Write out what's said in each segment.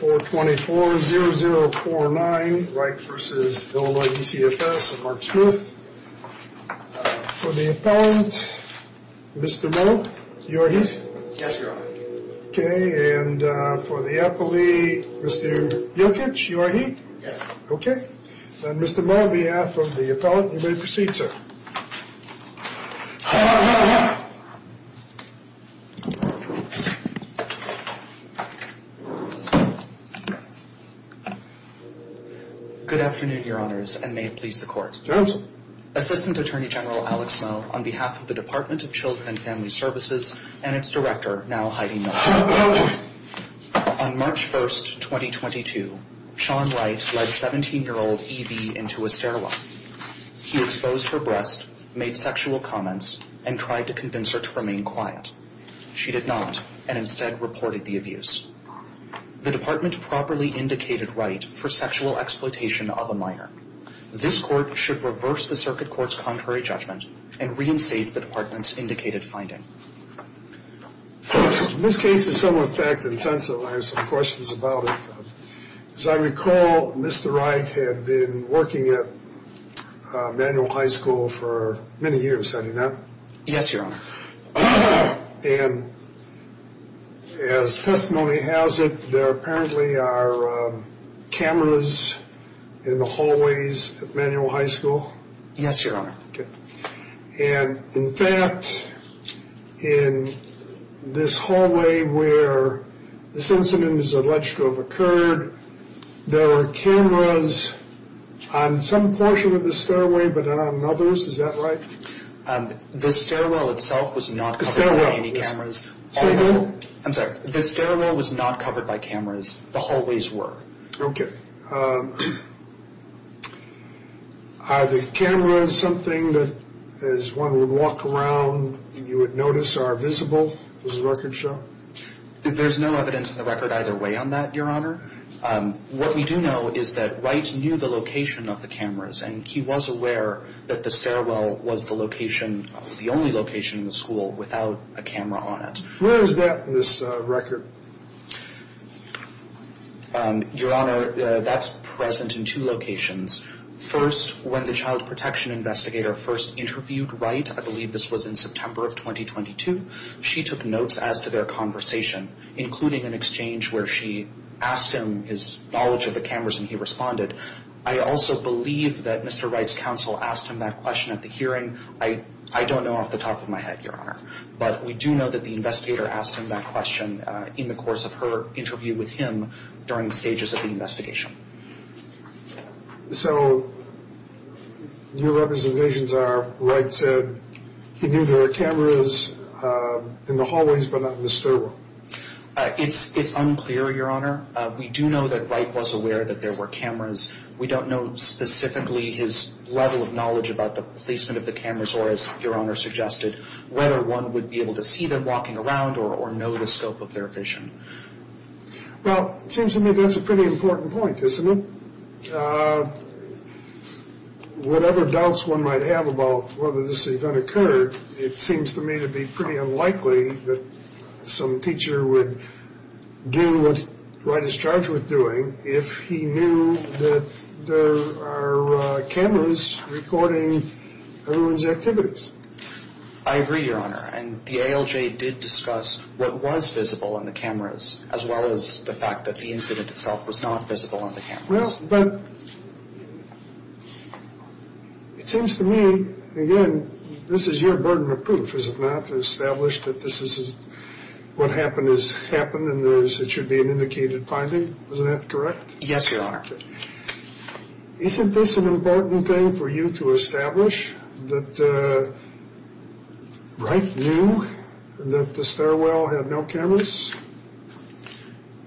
424-0049 Wright v. Illinois DCFS Mark Smith For the appellant, Mr. Moe, you are he? Yes, Your Honor Okay, and for the appellee, Mr. Jokic, you are he? Yes Okay, then Mr. Moe, on behalf of the appellant, you may proceed, sir Good afternoon, Your Honors, and may it please the court Yes Assistant Attorney General Alex Moe, on behalf of the Department of Children & Family Services and its director, now Heidi Miller Yes He exposed her breasts, made sexual comments, and tried to convince her to remain quiet. She did not, and instead reported the abuse. The department properly indicated Wright for sexual exploitation of a minor. This court should reverse the circuit court's contrary judgment and reinstate the department's indicated finding. First, this case is somewhat fact-intensive. I have some questions about it. As I recall, Mr. Wright had been working at Manual High School for many years, had he not? Yes, Your Honor And as testimony has it, there apparently are cameras in the hallways at Manual High School? Yes, Your Honor And in fact, in this hallway where this incident is alleged to have occurred, there were cameras on some portion of the stairway, but not on others, is that right? The stairwell itself was not covered by any cameras I'm sorry, the stairwell was not covered by cameras, the hallways were Okay, are the cameras something that as one would walk around, you would notice are visible, was the record showing? There's no evidence in the record either way on that, Your Honor What we do know is that Wright knew the location of the cameras, and he was aware that the stairwell was the only location in the school without a camera on it Where is that in this record? Your Honor, that's present in two locations First, when the child protection investigator first interviewed Wright, I believe this was in September of 2022 She took notes as to their conversation, including an exchange where she asked him his knowledge of the cameras and he responded I also believe that Mr. Wright's counsel asked him that question at the hearing I don't know off the top of my head, Your Honor But we do know that the investigator asked him that question in the course of her interview with him during the stages of the investigation So, your representations are Wright said he knew there were cameras in the hallways, but not in the stairwell It's unclear, Your Honor We do know that Wright was aware that there were cameras We don't know specifically his level of knowledge about the placement of the cameras Or, as Your Honor suggested, whether one would be able to see them walking around or know the scope of their vision Well, it seems to me that's a pretty important point, isn't it? Whatever doubts one might have about whether this event occurred, it seems to me to be pretty unlikely that some teacher would do what Wright is charged with doing if he knew that there are cameras recording everyone's activities I agree, Your Honor, and the ALJ did discuss what was visible on the cameras, as well as the fact that the incident itself was not visible on the cameras Well, but it seems to me, again, this is your burden of proof, is it not? to establish that what happened has happened and it should be an indicated finding, isn't that correct? Yes, Your Honor Isn't this an important thing for you to establish, that Wright knew that the stairwell had no cameras?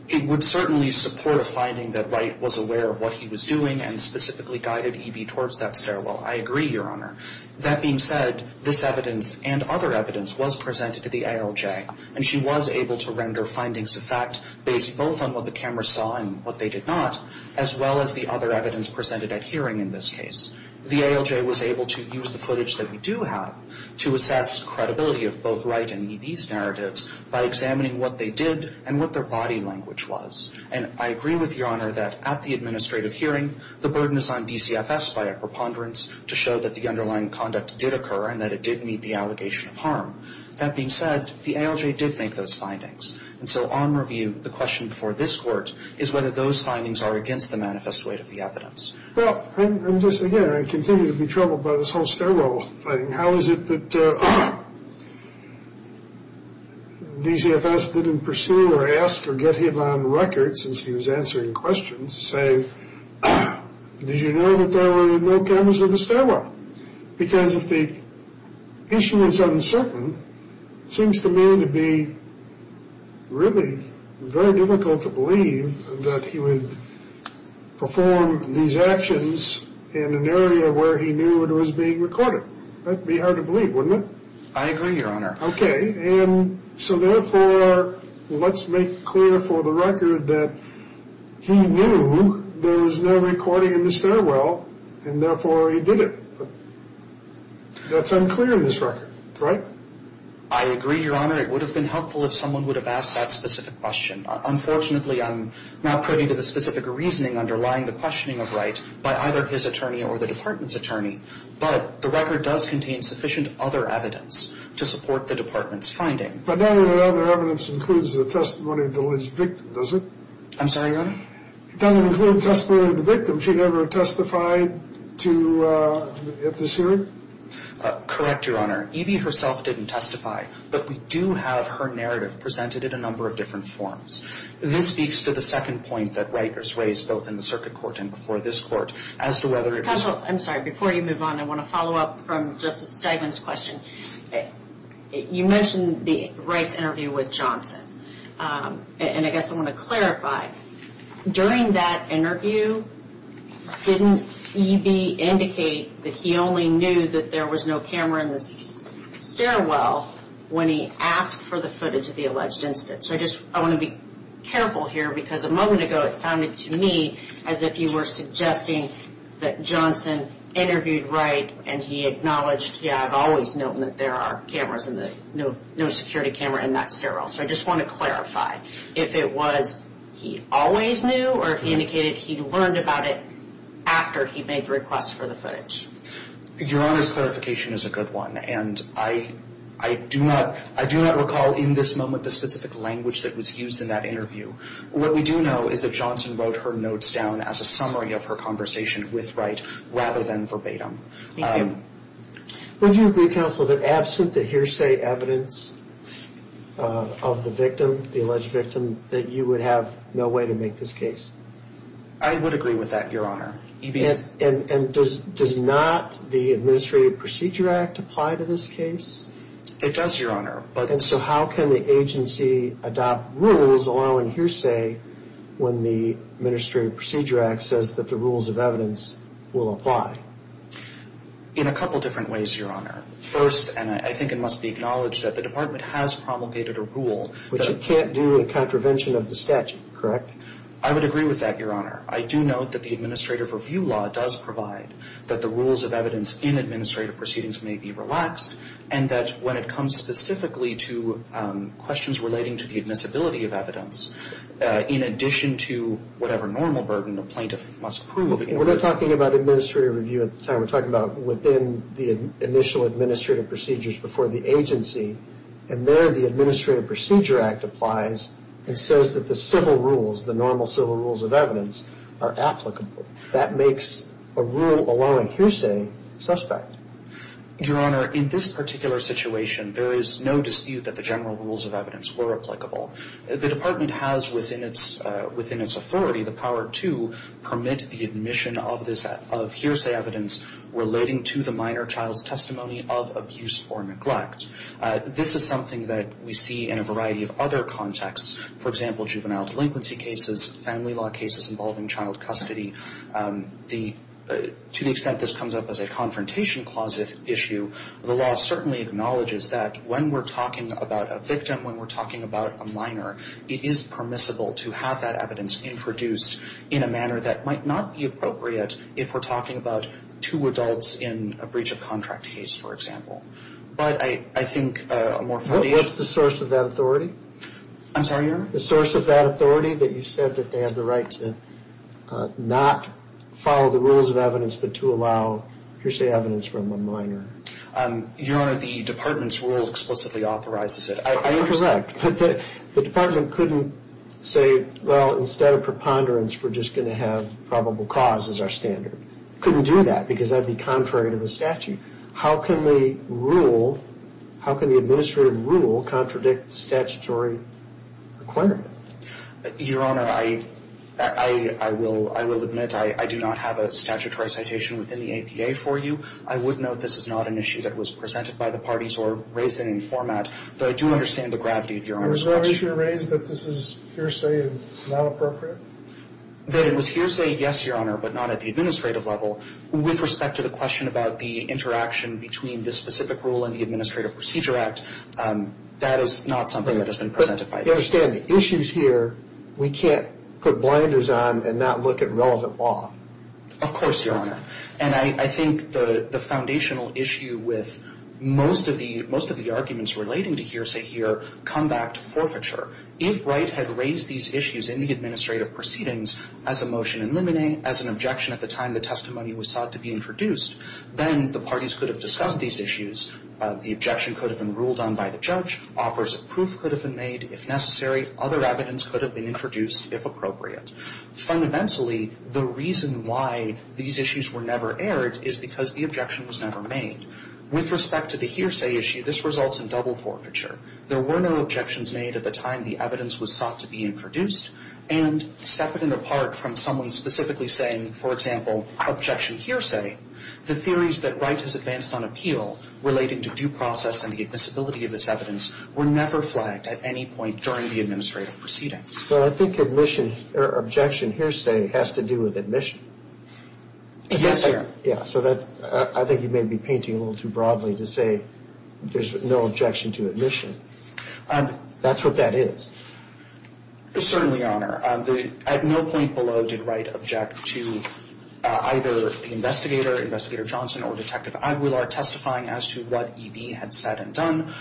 It would certainly support a finding that Wright was aware of what he was doing and specifically guided E.B. towards that stairwell I agree, Your Honor. That being said, this evidence and other evidence was presented to the ALJ and she was able to render findings of fact based both on what the cameras saw and what they did not as well as the other evidence presented at hearing in this case The ALJ was able to use the footage that we do have to assess credibility of both Wright and E.B.'s narratives by examining what they did and what their body language was And I agree with Your Honor that at the administrative hearing, the burden is on DCFS by a preponderance to show that the underlying conduct did occur and that it did meet the allegation of harm That being said, the ALJ did make those findings And so on review, the question for this Court is whether those findings are against the manifest weight of the evidence Well, I'm just, again, I continue to be troubled by this whole stairwell thing How is it that DCFS didn't pursue or ask or get him on record since he was answering questions to say, did you know that there were no cameras in the stairwell? Because if the issue is uncertain, it seems to me to be really very difficult to believe that he would perform these actions in an area where he knew it was being recorded That would be hard to believe, wouldn't it? I agree, Your Honor Okay, and so therefore, let's make clear for the record that he knew there was no recording in the stairwell and therefore he did it But that's unclear in this record, right? I agree, Your Honor It would have been helpful if someone would have asked that specific question Unfortunately, I'm not privy to the specific reasoning underlying the questioning of Wright by either his attorney or the Department's attorney but the record does contain sufficient other evidence to support the Department's finding But none of the other evidence includes the testimony of the alleged victim, does it? I'm sorry, Your Honor? It doesn't include testimony of the victim. She never testified at this hearing? Correct, Your Honor. Evie herself didn't testify but we do have her narrative presented in a number of different forms This speaks to the second point that Wright has raised both in the circuit court and before this court as to whether it was I'm sorry, before you move on, I want to follow up from Justice Steigman's question You mentioned Wright's interview with Johnson and I guess I want to clarify During that interview, didn't Evie indicate that he only knew that there was no camera in the stairwell when he asked for the footage of the alleged incident? So I want to be careful here because a moment ago it sounded to me as if you were suggesting that Johnson interviewed Wright and he acknowledged, yeah, I've always known that there are cameras in the no security camera in that stairwell So I just want to clarify If it was he always knew or if he indicated he learned about it after he made the request for the footage? Your Honor's clarification is a good one and I do not recall in this moment the specific language that was used in that interview What we do know is that Johnson wrote her notes down as a summary of her conversation with Wright rather than verbatim Thank you Would you agree, Counsel, that absent the hearsay evidence of the victim, the alleged victim that you would have no way to make this case? I would agree with that, Your Honor And does not the Administrative Procedure Act apply to this case? It does, Your Honor And so how can the agency adopt rules allowing hearsay when the Administrative Procedure Act says that the rules of evidence will apply? In a couple different ways, Your Honor First, and I think it must be acknowledged that the Department has promulgated a rule Which it can't do in contravention of the statute, correct? I would agree with that, Your Honor I do note that the Administrative Review Law does provide that the rules of evidence in administrative proceedings may be relaxed and that when it comes specifically to questions relating to the admissibility of evidence in addition to whatever normal burden a plaintiff must prove We're not talking about administrative review at the time We're talking about within the initial administrative procedures before the agency and there the Administrative Procedure Act applies and says that the civil rules, the normal civil rules of evidence, are applicable That makes a rule allowing hearsay suspect Your Honor, in this particular situation there is no dispute that the general rules of evidence were applicable The Department has within its authority the power to permit the admission of hearsay evidence relating to the minor child's testimony of abuse or neglect This is something that we see in a variety of other contexts For example, juvenile delinquency cases, family law cases involving child custody To the extent this comes up as a confrontation clause issue the law certainly acknowledges that when we're talking about a victim when we're talking about a minor it is permissible to have that evidence introduced in a manner that might not be appropriate if we're talking about two adults in a breach of contract case, for example But I think a more... What's the source of that authority? I'm sorry, Your Honor The source of that authority? That you said that they have the right to not follow the rules of evidence but to allow hearsay evidence from a minor Your Honor, the Department's rule explicitly authorizes it I intersect, but the Department couldn't say well, instead of preponderance, we're just going to have probable cause as our standard Couldn't do that because that would be contrary to the statute How can the rule... How can the administrative rule contradict statutory requirement? Your Honor, I... I will admit I do not have a statutory citation within the APA for you I would note this is not an issue that was presented by the parties or raised in any format but I do understand the gravity of Your Honor's question Is there an issue raised that this is hearsay and not appropriate? That it was hearsay, yes, Your Honor but not at the administrative level With respect to the question about the interaction between this specific rule and the Administrative Procedure Act that is not something that has been presented by this But you understand the issues here we can't put blinders on and not look at relevant law Of course, Your Honor And I think the foundational issue with most of the arguments relating to hearsay here come back to forfeiture If Wright had raised these issues in the administrative proceedings as a motion in limine as an objection at the time the testimony was sought to be introduced then the parties could have discussed these issues The objection could have been ruled on by the judge Offers of proof could have been made if necessary Other evidence could have been introduced if appropriate Fundamentally, the reason why these issues were never aired is because the objection was never made With respect to the hearsay issue this results in double forfeiture There were no objections made at the time the evidence was sought to be introduced and separate and apart from someone specifically saying for example, objection hearsay the theories that Wright has advanced on appeal relating to due process and the admissibility of this evidence were never flagged at any point during the administrative proceedings Well, I think objection hearsay has to do with admission Yes, Your Honor I think you may be painting a little too broadly to say there's no objection to admission That's what that is Certainly, Your Honor At no point below did Wright object to either the investigator, Investigator Johnson or Detective Aguilar testifying as to what E.B. had said and done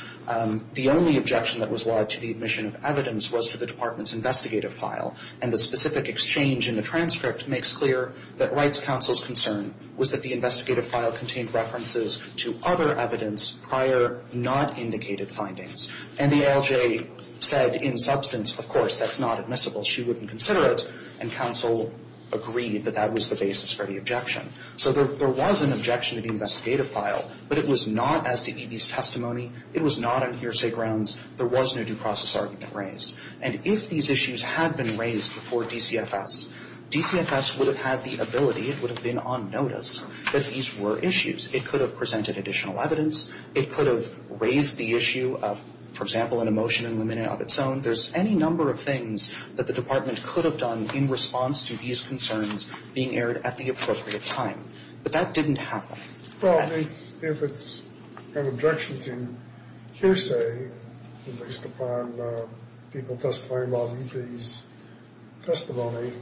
The only objection that was lodged to the admission of evidence was to the department's investigative file and the specific exchange in the transcript makes clear that Wright's counsel's concern was that the investigative file contained references to other evidence prior, not indicated findings and the ALJ said in substance of course, that's not admissible she wouldn't consider it and counsel agreed that that was the basis for the objection so there was an objection to the investigative file but it was not as to E.B.'s testimony it was not on hearsay grounds there was no due process argument raised and if these issues had been raised before DCFS DCFS would have had the ability it would have been on notice that these were issues it could have presented additional evidence it could have raised the issue of for example, an emotion of its own there's any number of things that the department could have done in response to these concerns being aired at the appropriate time but that didn't happen Well, if it's an objection to hearsay based upon people testifying about E.B.'s testimony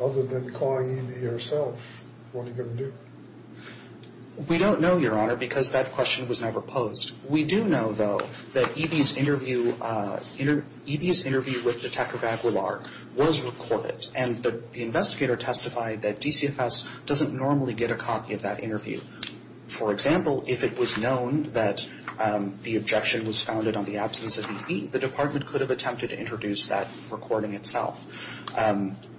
other than calling E.B. herself what are you going to do? We don't know, Your Honor because that question was never posed we do know though that E.B.'s interview E.B.'s interview with Detective Aguilar was recorded and the investigator testified that DCFS doesn't normally get a copy of that interview for example, if it was known that the objection was founded on the absence of E.B. the department could have attempted to introduce that recording itself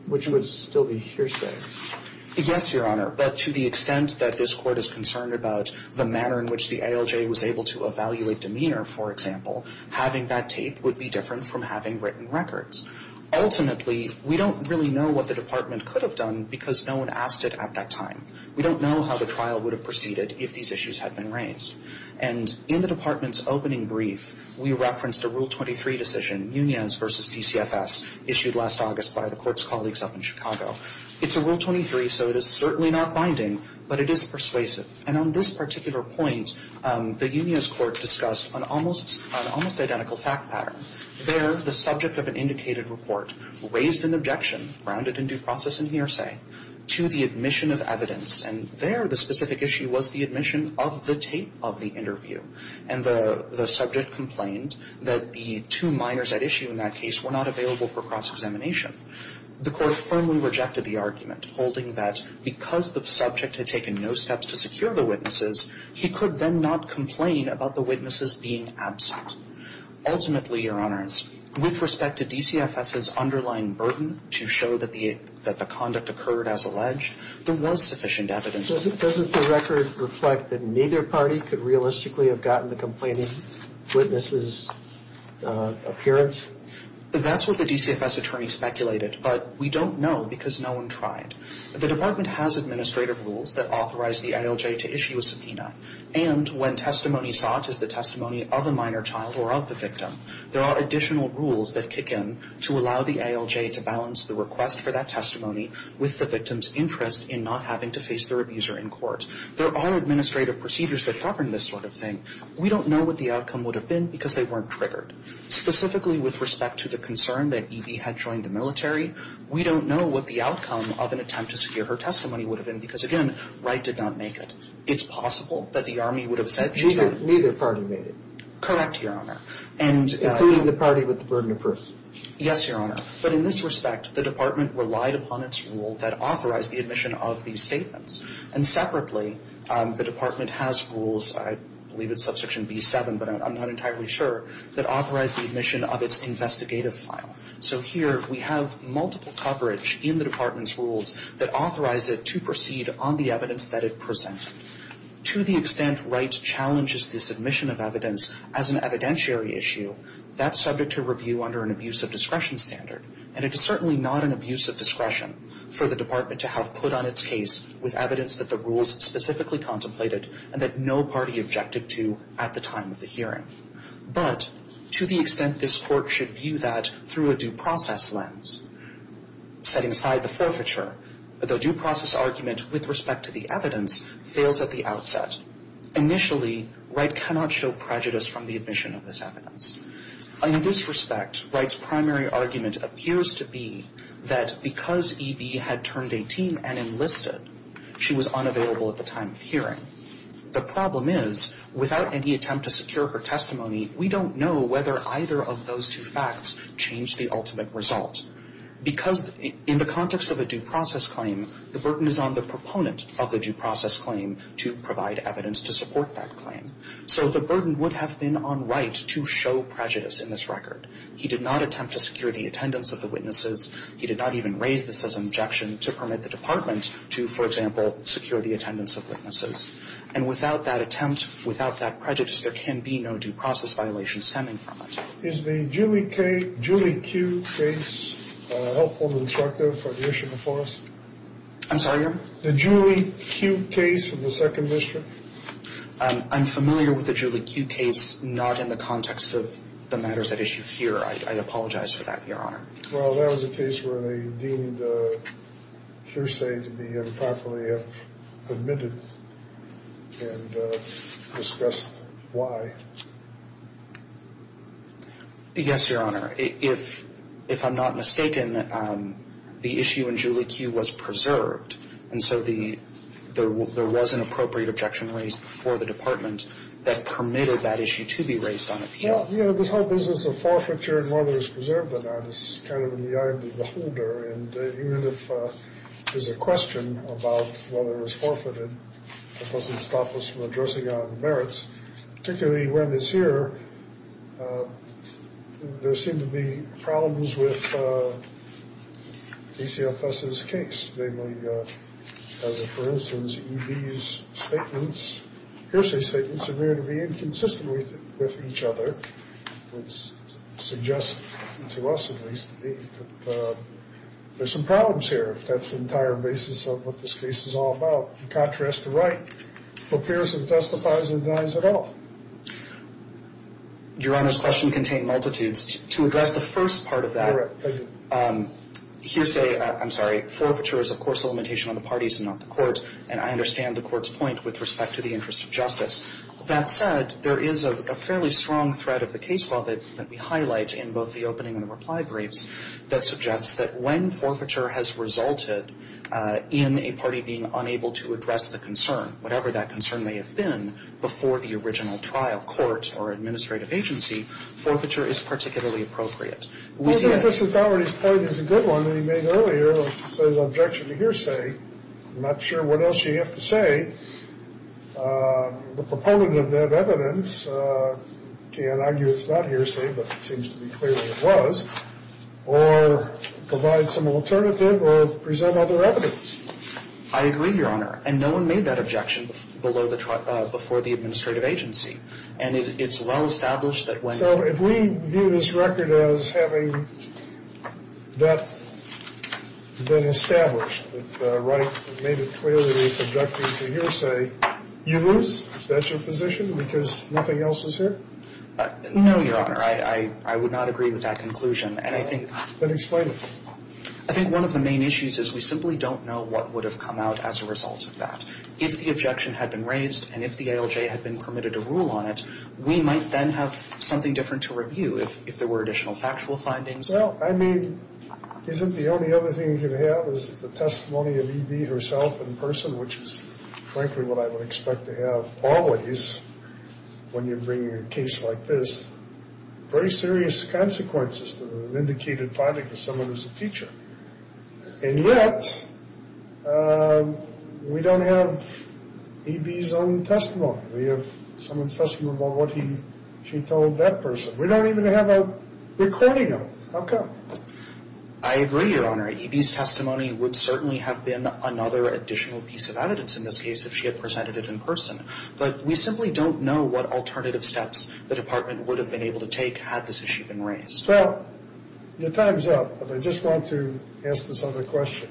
which would still be hearsay Yes, Your Honor but to the extent that this court is concerned about the manner in which the ALJ was able to evaluate demeanor for example having that tape would be different from having written records Ultimately, we don't really know what the department could have done because no one asked it at that time We don't know how the trial would have proceeded if these issues had been raised and in the department's opening brief we referenced a Rule 23 decision Munoz v. DCFS issued last August by the court's colleagues up in Chicago It's a Rule 23 so it is certainly not binding but it is persuasive and on this particular point the Munoz court discussed an almost identical fact pattern There, the subject of an indicated report raised an objection grounded in due process and hearsay to the admission of evidence and there the specific issue was the admission of the tape of the interview and the subject complained that the two minors at issue in that case were not available for cross-examination The court firmly rejected the argument holding that because the subject had taken no steps to secure the witnesses he could then not complain about the witnesses being absent Ultimately, Your Honors with respect to DCFS's underlying burden to show that the conduct occurred as alleged there was sufficient evidence Doesn't the record reflect that neither party could realistically have gotten the complaining witnesses' appearance? That's what the DCFS attorney speculated but we don't know because no one tried The department has administrative rules that authorize the ALJ to issue a subpoena and when testimony sought is the testimony of a minor child or of the victim there are additional rules that kick in to allow the ALJ to balance the request for that testimony with the victim's interest in not having to face their abuser in court There are administrative procedures that govern this sort of thing We don't know what the outcome would have been because they weren't triggered Specifically with respect to the concern that Evie had joined the military we don't know what the outcome of an attempt to secure her testimony would have been because, again, Wright did not make it It's possible that the Army would have said she's not Neither party made it Correct, Your Honor Including the party with the burden of proof Yes, Your Honor But in this respect, the department relied upon its rule that authorized the admission of these statements and separately, the department has rules I believe it's Subsection B-7 but I'm not entirely sure that authorized the admission of its investigative file So here we have multiple coverage in the department's rules that authorize it to proceed on the evidence that it presented To the extent Wright challenges this admission of evidence as an evidentiary issue that's subject to review under an abuse of discretion standard and it is certainly not an abuse of discretion for the department to have put on its case with evidence that the rules specifically contemplated and that no party objected to at the time of the hearing But to the extent this court should view that through a due process lens setting aside the forfeiture the due process argument with respect to the evidence fails at the outset Initially, Wright cannot show prejudice from the admission of this evidence In this respect, Wright's primary argument appears to be that because E.B. had turned 18 and enlisted she was unavailable at the time of hearing The problem is, without any attempt to secure her testimony we don't know whether either of those two facts changed the ultimate result Because in the context of a due process claim the burden is on the proponent of the due process claim to provide evidence to support that claim So the burden would have been on Wright to show prejudice in this record He did not attempt to secure the attendance of the witnesses He did not even raise this as an objection to permit the department to, for example secure the attendance of witnesses And without that attempt, without that prejudice there can be no due process violation stemming from it Is the Julie Q case helpful and instructive on the issue before us? I'm sorry, Your Honor? The Julie Q case from the Second District? I'm familiar with the Julie Q case not in the context of the matters at issue here I apologize for that, Your Honor Well, that was a case where they deemed hearsay to be improperly admitted and discussed why Yes, Your Honor If I'm not mistaken the issue in Julie Q was preserved and so there was an appropriate objection raised before the department that permitted that issue to be raised on appeal Well, you know, this whole business of forfeiture and whether it's preserved or not is kind of in the eye of the beholder and even if there's a question about whether it was forfeited it doesn't stop us from addressing our merits particularly when it's here there seem to be problems with DCFS's case namely, as a for instance EB's statements hearsay statements appear to be inconsistent with each other which suggests, to us at least that there's some problems here if that's the entire basis of what this case is all about in contrast, the right appears and testifies and denies it all Your Honor's question contained multitudes to address the first part of that correct, thank you hearsay, I'm sorry forfeiture is of course a limitation on the parties and not the courts and I understand the court's point with respect to the interest of justice that said, there is a fairly strong threat of the case law that we highlight in both the opening and reply briefs that suggests that when forfeiture has resulted in a party being unable to address the concern whatever that concern may have been before the original trial court or administrative agency forfeiture is particularly appropriate I wonder if Mr. Daugherty's point is a good one that he made earlier on his objection to hearsay I'm not sure what else you have to say the proponent of that evidence can argue it's not hearsay but it seems to be clearly it was or provide some alternative or present other evidence I agree, Your Honor and no one made that objection before the administrative agency and it's well established that when so if we view this record as having that been established that Wright made it clear that he was objecting to hearsay you lose is that your position because nothing else is here no, Your Honor I would not agree with that conclusion and I think then explain it I think one of the main issues is we simply don't know what would have come out as a result of that if the objection had been raised and if the ALJ had been permitted to rule on it we might then have something different to review if there were additional factual findings well, I mean isn't the only other thing you can have is the testimony of E.B. herself in person which is frankly what I would expect to have always when you're bringing a case like this very serious consequences to an indicated finding of someone who's a teacher and yet we don't have E.B.'s own testimony we have someone's testimony about what he she told that person we don't even have a recording of it how come? I agree, Your Honor E.B.'s testimony would certainly have been another additional piece of evidence in this case if she had presented it in person but we simply don't know what alternative steps the department would have been able to take had this issue been raised well your time's up but I just want to ask this other question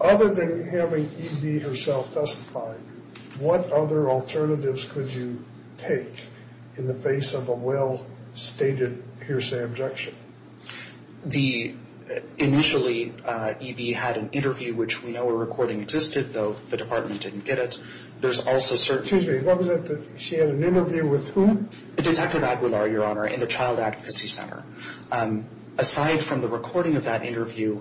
other than having E.B. herself testify what other alternatives could you take in the face of a well-stated hearsay objection? the initially E.B. had an interview which we know a recording existed though the department didn't get it there's also certain excuse me she had an interview with whom? Detective Aguilar, Your Honor in the Child Advocacy Center aside from the recording of that interview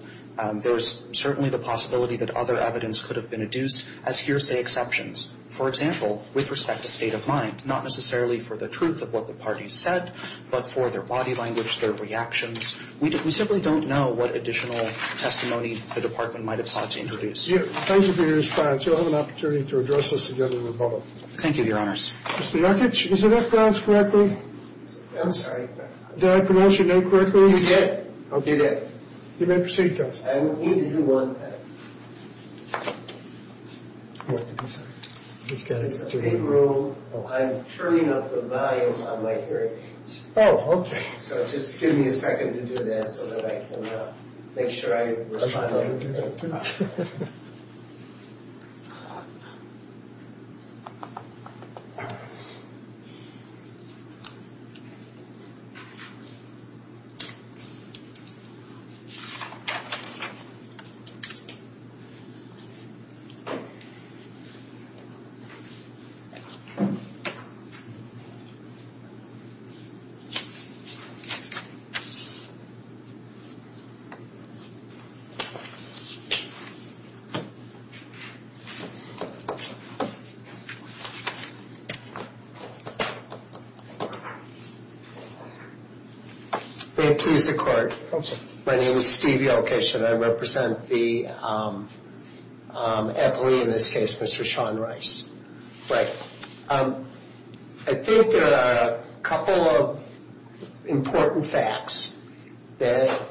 there's certainly the possibility that other evidence could have been adduced as hearsay exceptions for example with respect to state of mind not necessarily for the truth of what the parties said but for their body language their reactions we simply don't know what additional testimony the department might have sought to introduce thank you for your response you'll have an opportunity to address this together with both thank you, Your Honors Mr. Yarkich is the reference correctly? I'm sorry did I pronounce your name correctly? you did you may proceed, Counsel I don't need to do one I'm turning up the volume on my hearing aids oh, okay so just give me a second to do that so that I can make sure I respond okay may it please the Court Come, sir my name is Steve Yarkich and I represent the advocate in this case Mr. Sean Rice well I think there are a couple of important facts that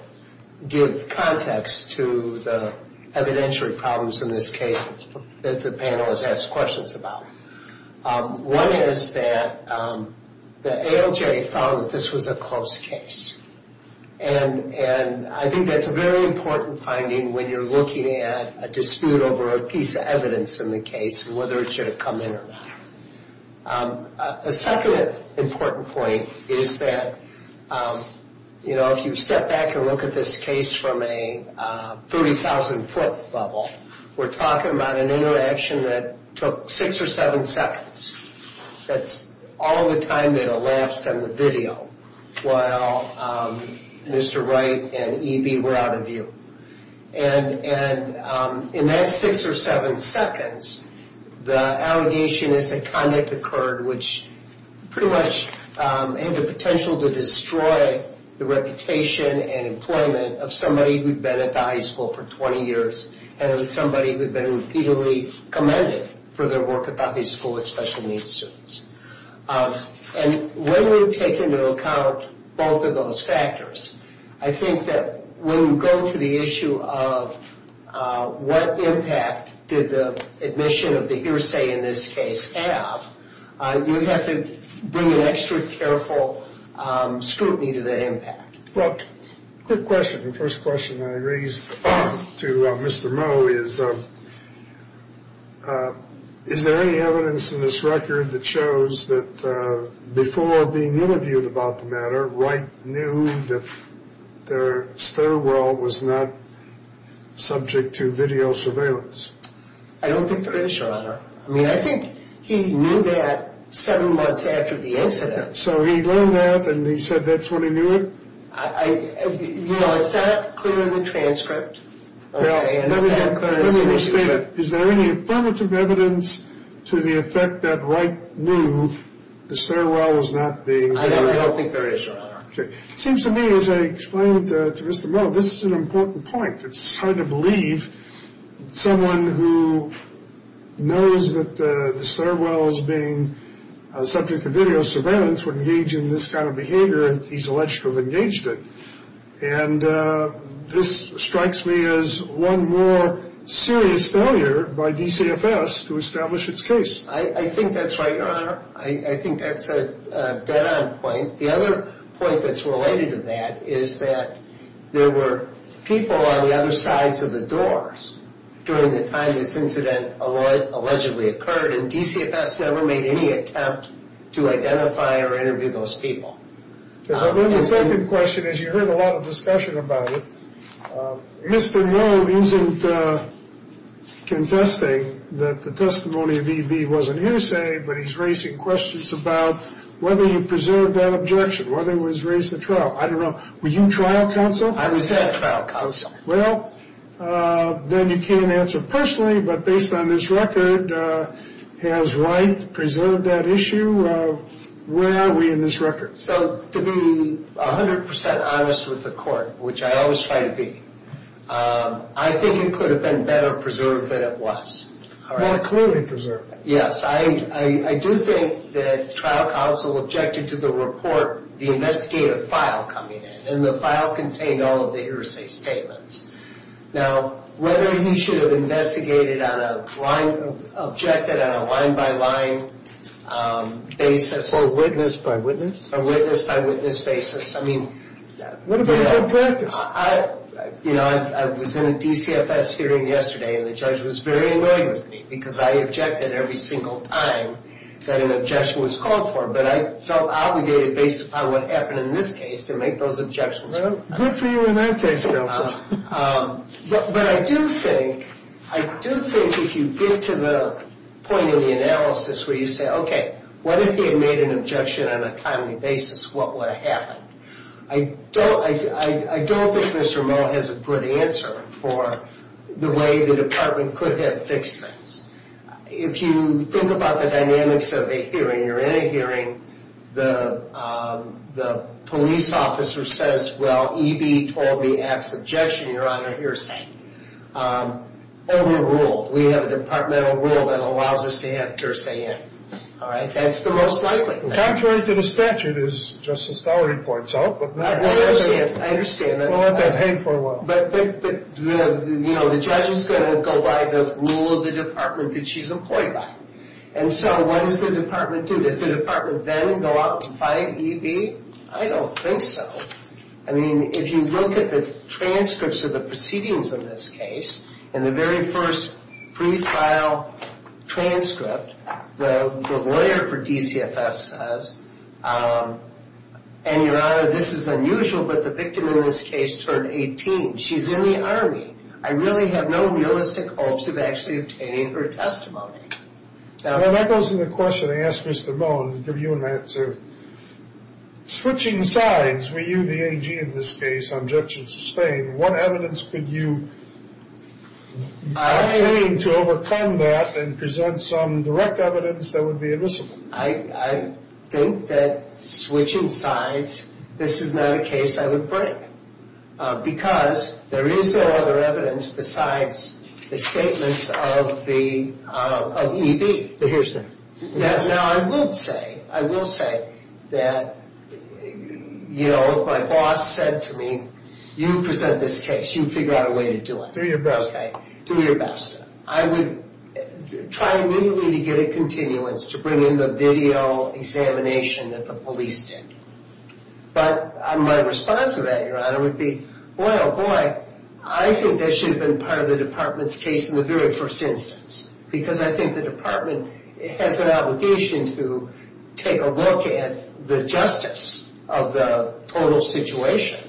give context to the evidentiary problems in this case that the panel has asked questions about one is that the ALJ found that this was a close case and I think that's a very important finding when you're looking at a dispute over a piece of evidence in the case whether it should have come in or not a second important point is that if you step back and look at this case from a 30,000 foot level we're talking about an interaction that took 6 or 7 seconds that's all the time that elapsed on the video while Mr. Wright and EB were out of view and in that 6 or 7 seconds the allegation is that misconduct occurred which pretty much had the potential to destroy the reputation and employment of somebody who'd been at the high school for 20 years and somebody who'd been repeatedly commended for their work at the high school with special needs students and when you take into account both of those factors I think that when you go to the issue of what impact did the admission of the hearsay in this case have, you have to bring an extra careful scrutiny to that impact Well, quick question the first question I raised to Mr. Moe is is there any evidence in this record that shows that before being interviewed about the matter Wright knew that their sterile world was not subject to video surveillance? I don't think there is, Your Honor I mean, I think he knew that 7 months after the incident So he learned that and he said that's when he knew it? You know, it's not clear in the transcript Let me restate it Is there any affirmative evidence to the effect that Wright knew the sterile world was not being... I don't think there is, Your Honor It seems to me as I explained to Mr. Moe, this is an important point It's hard to believe someone who knows that the sterile world is being subject to video surveillance would engage in this kind of behavior he's allegedly engaged in and this strikes me as one more serious failure by DCFS to establish its case. I think that's right, Your Honor I think that's a dead-on point. The other point that's related to that is that there were people on the other sides of the doors during the time this incident allegedly occurred and DCFS never made any attempt to identify or interview those people The second question is you heard a lot of discussion about it Mr. Moe isn't contesting that the testimony of E.V. wasn't hearsay, but he's raising questions about whether he preserved that objection, whether he was raised to trial Were you trial counsel? I was head trial counsel Then you can't answer personally, but based on this record has Wright preserved that issue? Where are we in this record? To be 100% honest with the court, which I always try to be I think it could have been better preserved than it was More clearly preserved Yes, I do think that trial counsel objected to the report, the investigative file coming in, and the file contained all of the hearsay statements Whether he should have objected on a line-by-line basis Witness-by-witness? Witness-by-witness basis What about your practice? I was in a DCFS hearing yesterday and the judge was very angry with me because I objected every single time that an objection was called for, but I felt obligated based upon what happened in this case to make those objections Good for you in that case, counsel But I do think I do think if you get to the point of the analysis where you say, okay, what if he had made an objection on a timely basis? What would have happened? I don't think Mr. Moe has a good answer for the way the department could have fixed things If you think about the dynamics of a hearing, you're in a hearing the police officer says EB told me to have objection, your honor, hearsay Overruled We have a departmental rule that allows us to have hearsay in That's the most likely thing Contrary to the statute, as Justice Dahl reports out I understand We'll let that hang for a while The judge is going to go by the rule of the department that she's employed by What does the department do? Does the department then go out and find EB? I don't think so If you look at the transcripts of the proceedings of this case in the very first pre-file transcript the lawyer for DCFS says Your honor, this is unusual, but the victim in this case turned 18. She's in the army I really have no realistic hopes of actually obtaining her testimony That goes to the question I asked Mr. Moen, I'll give you an answer Switching sides, were you the AG in this case, objection sustained, what evidence could you obtain to overcome that and present some direct evidence that would be admissible? I think that switching sides, this is not a case I would break because there is no other evidence besides the statements of the EB Now I would say I will say that you know my boss said to me You present this case, you figure out a way to do it Do your best I would try immediately to get a continuance to bring in the video examination that the police did but my response to that would be, boy oh boy I think that should have been part of the department's case in the very first instance because I think the department has an obligation to take a look at the justice of the total situation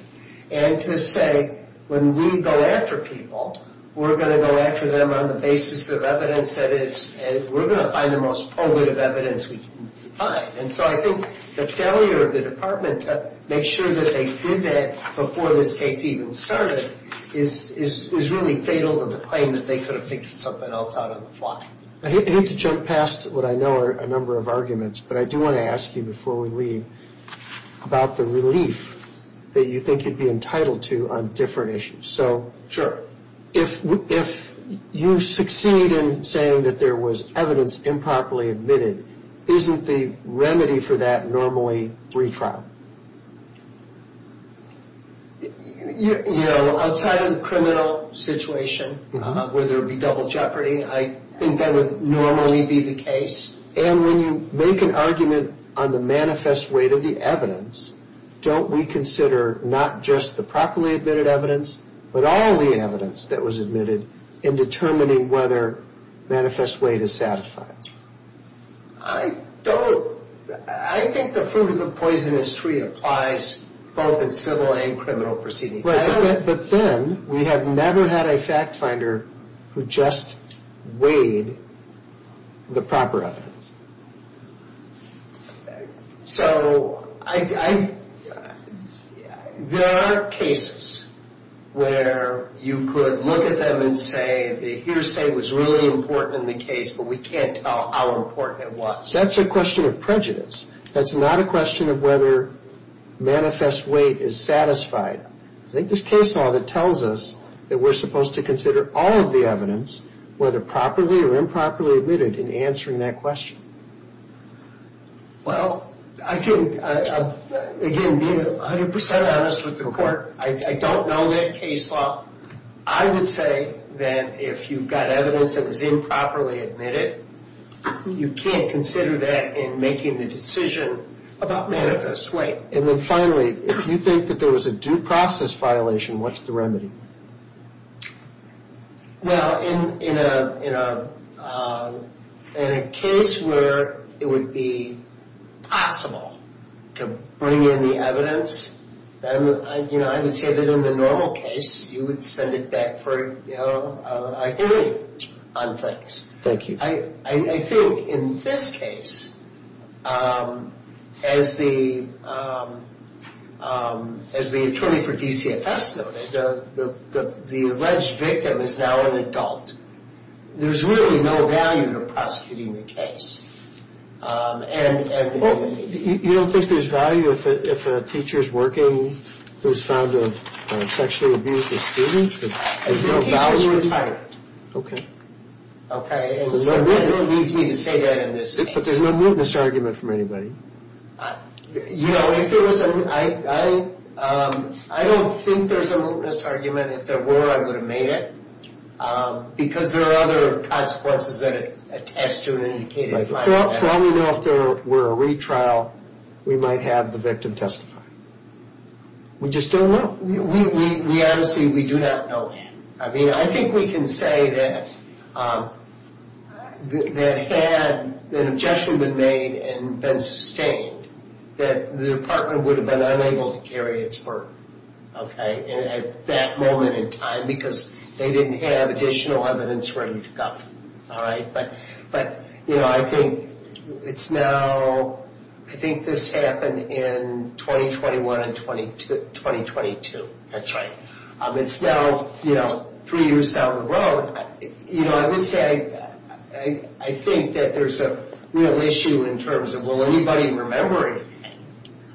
and to say when we go after people we're going to go after them on the basis of evidence that is we're going to find the most probative evidence we can find and so I think the failure of the department to make sure that they did that before this case even started is really fatal of the claim that they could have picked something else out on the fly. I hate to jump past what I know are a number of arguments but I do want to ask you before we leave about the relief that you think you'd be entitled to on different issues so if you succeed in saying that there was evidence improperly admitted isn't the remedy for that normally retrial? You know outside of the criminal situation where there would be double jeopardy I think that would normally be the case. And when you make an argument on the manifest weight of the evidence, don't we consider not just the properly admitted evidence but all the evidence that was admitted in determining whether manifest weight is satisfied? I don't I think the fruit of the poisonous tree applies both in civil and criminal proceedings. But then we have never had a fact finder who just weighed the proper evidence. So I there are cases where you could look at them and say the hearsay was really important in the case but we can't tell how important it was. That's a question of prejudice. That's not a question of whether manifest weight is satisfied. I think there's case law that tells us that we're supposed to consider all of the evidence whether properly or improperly admitted in answering that question. Well I think, again being 100% honest with the court I don't know that case law I would say that if you've got evidence that was improperly admitted you can't consider that in making the decision about manifest weight. And then finally if you think that there was a due process violation, what's the remedy? Well in a in a case where it would be possible to bring in the evidence I would say that in the normal case you would send it back for a hearing on things. I think in this case as the as the attorney for DCFS noted the alleged victim is now an adult. There's really no value to prosecuting the case. You don't think there's value if a teacher's working who's found a sexually abusive student? I think the teacher's retired. Okay. And so that leaves me to say that in this case. But there's no mootness argument from anybody. You know if there was a I don't think there's a mootness argument. If there were, I would have made it. Because there are other consequences that attest to an indicated violence. While we know if there were a retrial we might have the victim testify. We just don't know. We honestly do not know that. I think we can say that that had an objection been made and been sustained that the department would have been unable to carry its burden. At that moment in time because they didn't have additional evidence ready to go. But I think it's now I think this happened in 2021 and 2022. That's right. It's now three years down the road. I would say I think that there's a real issue in terms of will anybody remember anything?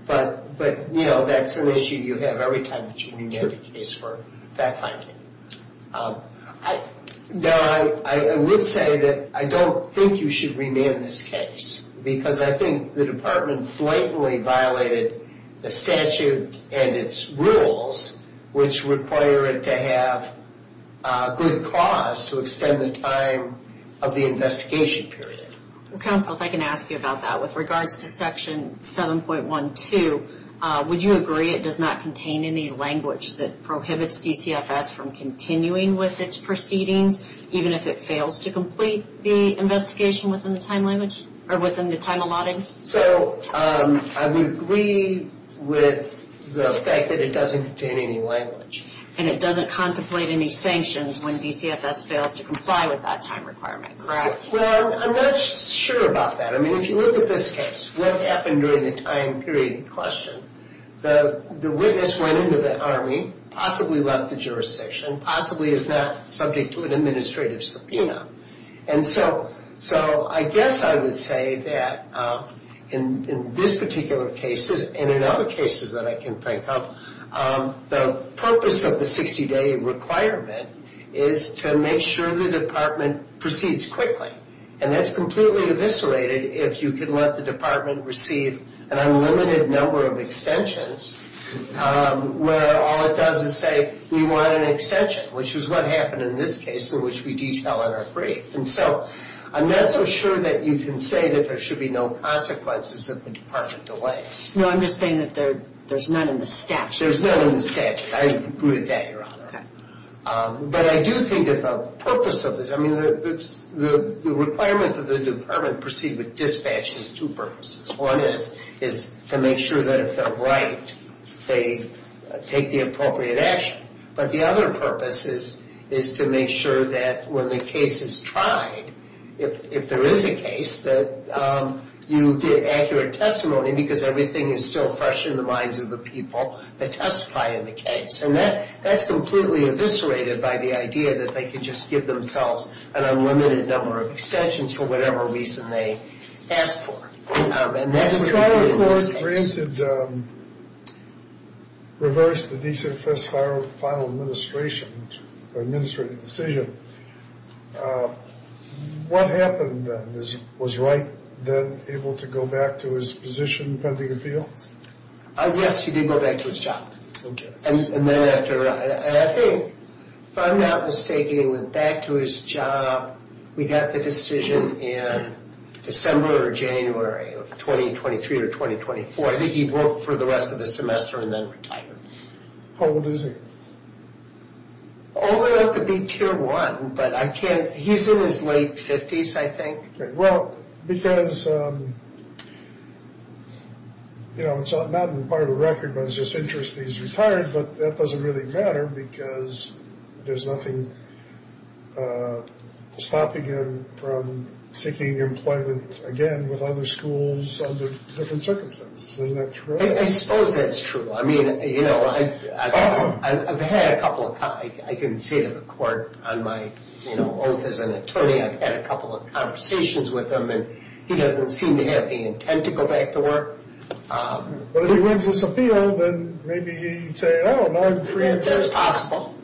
But that's an issue you have every time that you renew the case for fact finding. I would say that I don't think you should rename this case. Because I think the department blatantly violated the statute and its rules which require it to have a good cause to extend the time of the investigation period. Counsel, if I can ask you about that. With regards to section 7.12 would you agree it does not contain any language that prohibits DCFS from continuing with its proceedings even if it fails to complete the investigation within the time language or within the time allotted? I would agree with the fact that it doesn't contain any language. And it doesn't contemplate any sanctions when DCFS fails to comply with that time requirement, correct? I'm not sure about that. If you look at this case, what happened during the time period in question? The witness went into the Army, possibly left the jurisdiction, possibly is not subject to an administrative subpoena. And so I guess I would say that in this particular case and in other cases that I can think of, the purpose of the 60 day requirement is to make sure the department proceeds quickly. And that's completely eviscerated if you can let the department receive an unlimited number of extensions where all it does is say, we want an extension, which is what happened in this case in which we detail in our brief. And so, I'm not so sure that you can say that there should be no consequences if the department delays. No, I'm just saying that there's none in the statute. There's none in the statute. I agree with that, Your Honor. But I do think that the purpose of this I mean, the requirement that the department proceed with dispatch has two purposes. One is to make sure that if they're right they take the appropriate action. But the other purpose is to make sure that when the case is tried if there is a case that you get accurate testimony because everything is still fresh in the minds of the people that testify in the case. And that that's completely eviscerated by the idea that they can just give themselves an unlimited number of extensions for whatever reason they ask for. And that's a priority in this case. Reverse the DCFS final administration or administrative decision. What happened then? Was Wright then able to go back to his position pending appeal? Yes, he did go back to his job. And then after I think, if I'm not mistaken, he went back to his job We got the decision in December or January of 2023 or 2024 I think he'd work for the rest of the semester and then retire. How old is he? Old enough to be tier one but I can't, he's in his late 50s I think. Well, because you know, it's not part of the record but it's just interest that he's retired but that doesn't really matter because there's nothing stopping him from seeking employment again with other schools under different circumstances. I suppose that's true. I mean, you know, I've had a couple of I can say to the court on my oath as an attorney, I've had a couple of conversations with him and he doesn't seem to have the intent to go back to work. But if he wins this appeal, then maybe he'd say, oh, now I'm free. That's possible.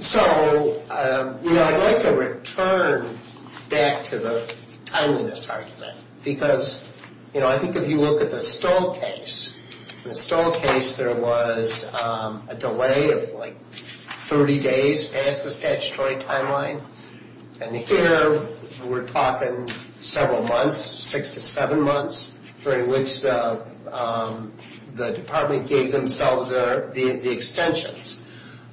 So, I'd like to return back to the timeliness argument because I think if you look at the Stoll case, in the Stoll case there was a delay of 30 days past the statutory timeline and here we're talking several months, six to seven months, during which the department gave themselves the extensions.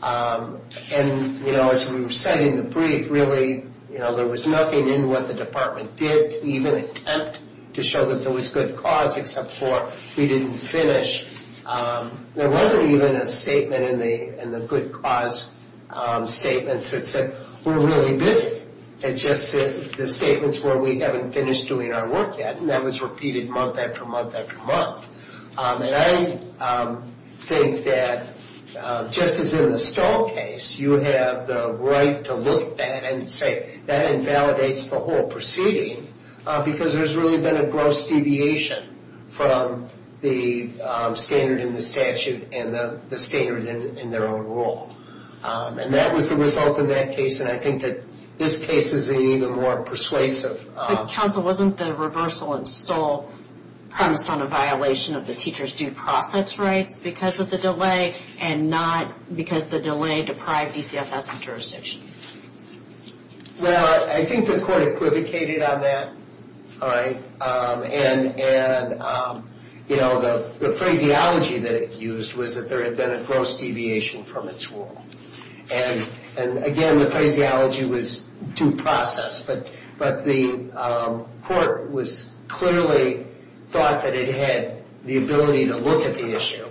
And, you know, as we were setting the brief, really there was nothing in what the department did even attempt to show that there was good cause except for we didn't finish. There wasn't even a statement in the good cause statements that said we're really busy. It's just that the statements were we haven't finished doing our work yet and that was repeated month after month after month. And I think that just as in the Stoll case, you have the right to look at that and say that invalidates the whole proceeding because there's really been a gross deviation from the standard in the statute and the standard in their own rule. And that was the result of that case and I think that this case is an even more persuasive... But Counsel, wasn't the reversal in Stoll premised on a violation of the teacher's due process rights because of the delay and not because the delay deprived ECFS and jurisdiction? Well, I think the court equivocated on that. And you know, the phraseology that it used was that there had been a gross deviation from its rule. And again, the phraseology was due process, but the court was clearly thought that it had the ability to look at the issue,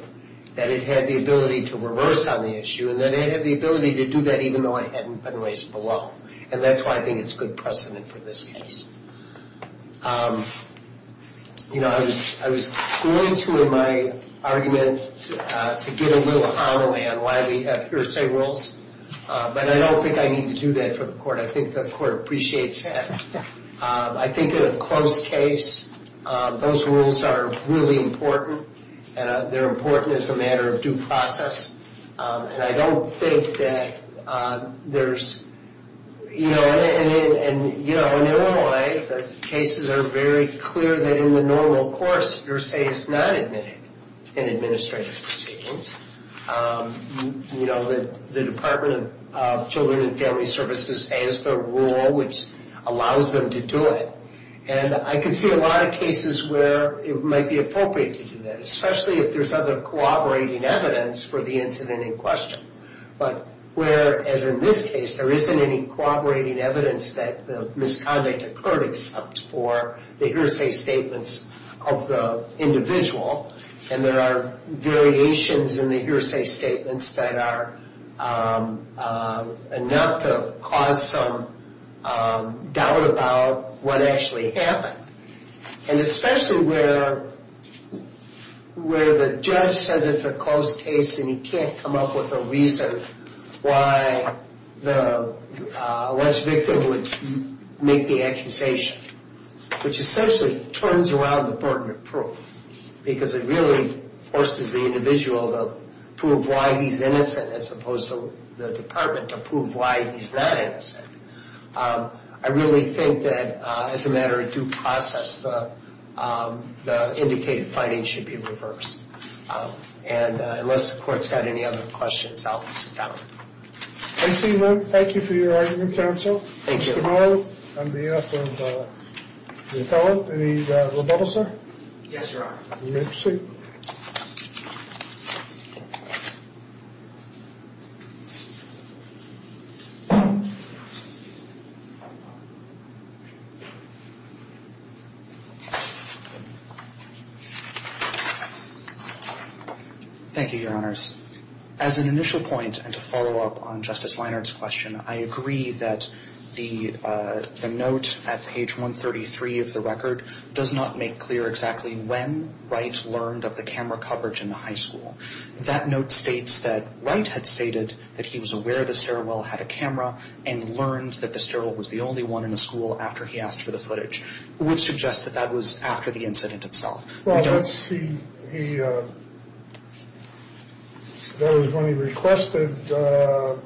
that it had the ability to reverse on the issue, and that it had the ability to do that even though it hadn't been raised below. And that's why I think it's good precedent for this case. You know, I was going to in my argument to get a little homily on why we have hearsay rules, but I don't think I need to do that for the court. I think the court appreciates that. I think in a close case, those rules are really important and they're important as a matter of due process. And I don't think that there's... You know, in Illinois the cases are very clear that in the normal course, hearsay is not admitted in administrative proceedings. You know, the Department of Children and Family Services has their rule which allows them to do it. And I can see a lot of cases where it might be appropriate to do that, especially if there's other cooperating evidence for the incident in question. But whereas in this case, there isn't any cooperating evidence that the misconduct occurred except for the hearsay statements of the individual, and there are variations in the hearsay statements that are enough to cause some doubt about what actually happened. And especially where the judge says it's a close case and he can't come up with a reason why the alleged victim would make the accusation, which essentially turns around the case because it really forces the individual to prove why he's innocent as opposed to the department to prove why he's that innocent. I really think that as a matter of due process, the indicated finding should be reversed. And unless the court's got any other questions, I'll sit down. Thank you for your argument, counsel. Thank you. Mr. Morrow, I'm the editor of The Appellant. Any rebuttals, sir? Yes, Your Honor. You may proceed. Thank you, Your Honors. As an initial point, and to follow up on Justice Leinart's question, I agree that the note at page 133 of the record does not make clear exactly when Wright learned of the camera coverage in the high school. That note states that Wright had stated that he was aware the sterile well had a camera and learned that the sterile was the only one in the school after he asked for the footage. It would suggest that that was after the incident itself. Well, that's the... That was when he requested the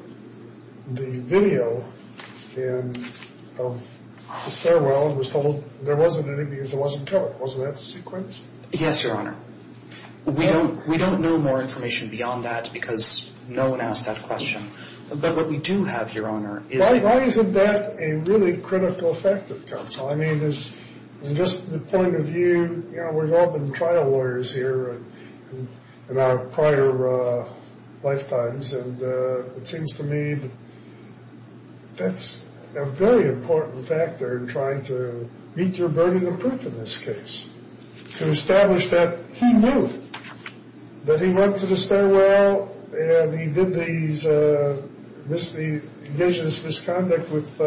video in the sterile well and was told there wasn't any because it wasn't colored. Wasn't that the sequence? Yes, Your Honor. We don't know more information beyond that because no one asked that question. But what we do have, Your Honor, is... Why isn't that a really critical fact of counsel? I mean, just the point of view, we've all been trial lawyers here in our prior lifetimes and it seems to me that that's a very important factor in trying to meet your burden of proof in this case. To establish that he knew that he went to the sterile well and he did these misdeeds, engaged in this misconduct with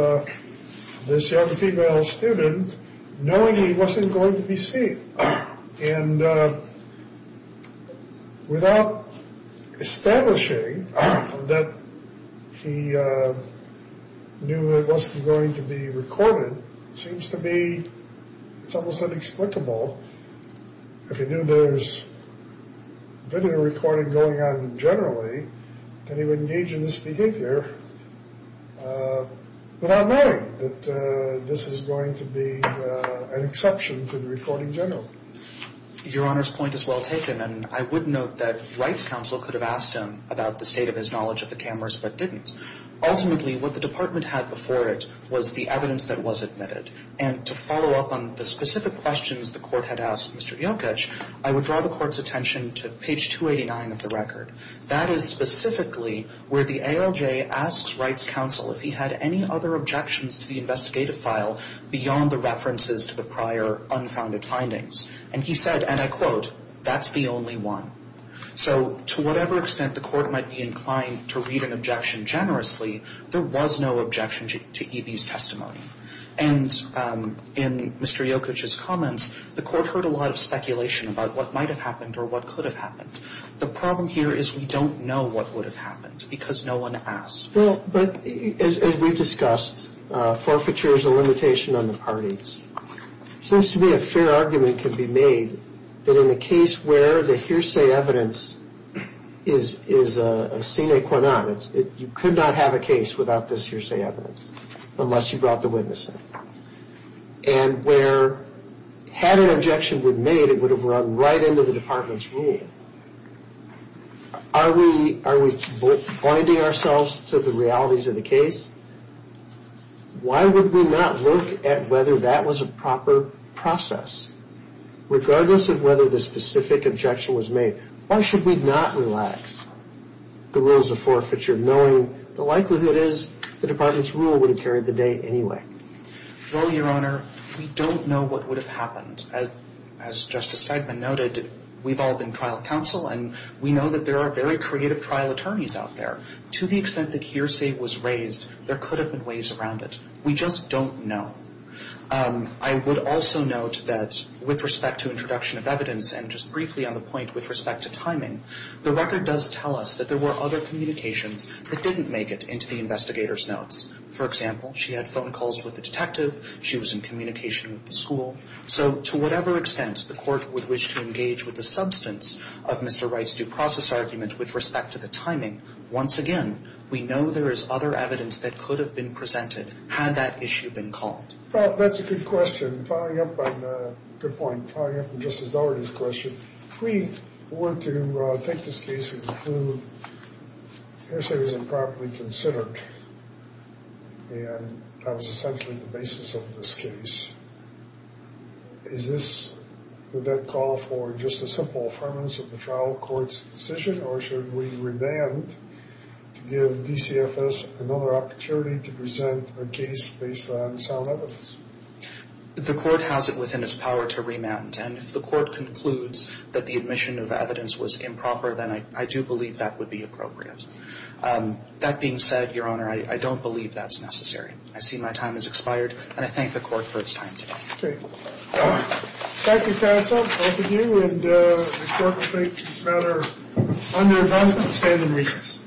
this young female student knowing he wasn't going to be seen. And without establishing that he knew it wasn't going to be recorded, it seems to me it's almost inexplicable if he knew there was video recording going on generally, that he would engage in this behavior without knowing that this is going to be an exception to the recording in general. Your Honor's point is well taken and I would note that Wright's counsel could have asked him about the state of his knowledge of the cameras but didn't. Ultimately, what the department had before it was the evidence that was admitted and to follow up on the specific questions the court had asked Mr. Jokic, I would draw the court's attention to page 289 of the record. That is specifically where the ALJ asks Wright's counsel if he had any other objections to the investigative file beyond the references to the prior unfounded findings. And he said, and I quote, that's the only one. So to whatever extent the court might be inclined to read an objection generously, there was no objection to E.B.'s testimony. And in Mr. Jokic's comments, the court heard a lot of speculation about what might have happened or what could have happened. The problem here is we don't know what would have happened because no one asked. Well, but as we've discussed, forfeiture is a limitation on the parties. It seems to me a fair argument can be made that in a case where the hearsay evidence is a sine qua non, you could not have a case without this hearsay evidence unless you brought the witness in. And where had an objection been made, it would have run right into the department's rule. Are we binding ourselves to the realities of the case? Why would we not look at whether that was a proper process, regardless of whether the specific objection was made? Why should we not relax the rules of forfeiture knowing the likelihood is the department's rule would have carried the day anyway? Well, Your Honor, we don't know what would have happened. As Justice Feigman noted, we've all been trial counsel and we know that there are very creative trial attorneys out there. To the extent the court would wish to engage with the substance other evidence that could have been used to make that argument. We just don't know. I would also note that with respect to introduction of evidence and just briefly on the point with respect to timing, the record does tell us that there were other communications that didn't make it into the investigator's notes. For example, she had phone calls with the detective, she was in communication with the school. So, to whatever extent the court would wish to engage with the substance of Mr. Wright's due process argument with respect to the timing, once again, we know there is other evidence that could have been presented had that issue been called. Well, that's a good question. Following up on the, good point, following up on Justice Daugherty's question, if we were to take this case and conclude the hearsay was improperly considered and that was essentially the basis of this case, is this, would that call for just a simple affirmance of the trial court's decision, or should we remand to give DCFS another opportunity to present a case based on sound evidence? The court has it within its power to remand and if the court concludes that the admission of evidence was improper, then I do believe that would be appropriate. That being said, Your Honor, I don't believe that's necessary. I see my time has expired, and I thank the court for its time today. Thank you counsel, both of you, and the court will take this matter under a vote to stand in recess.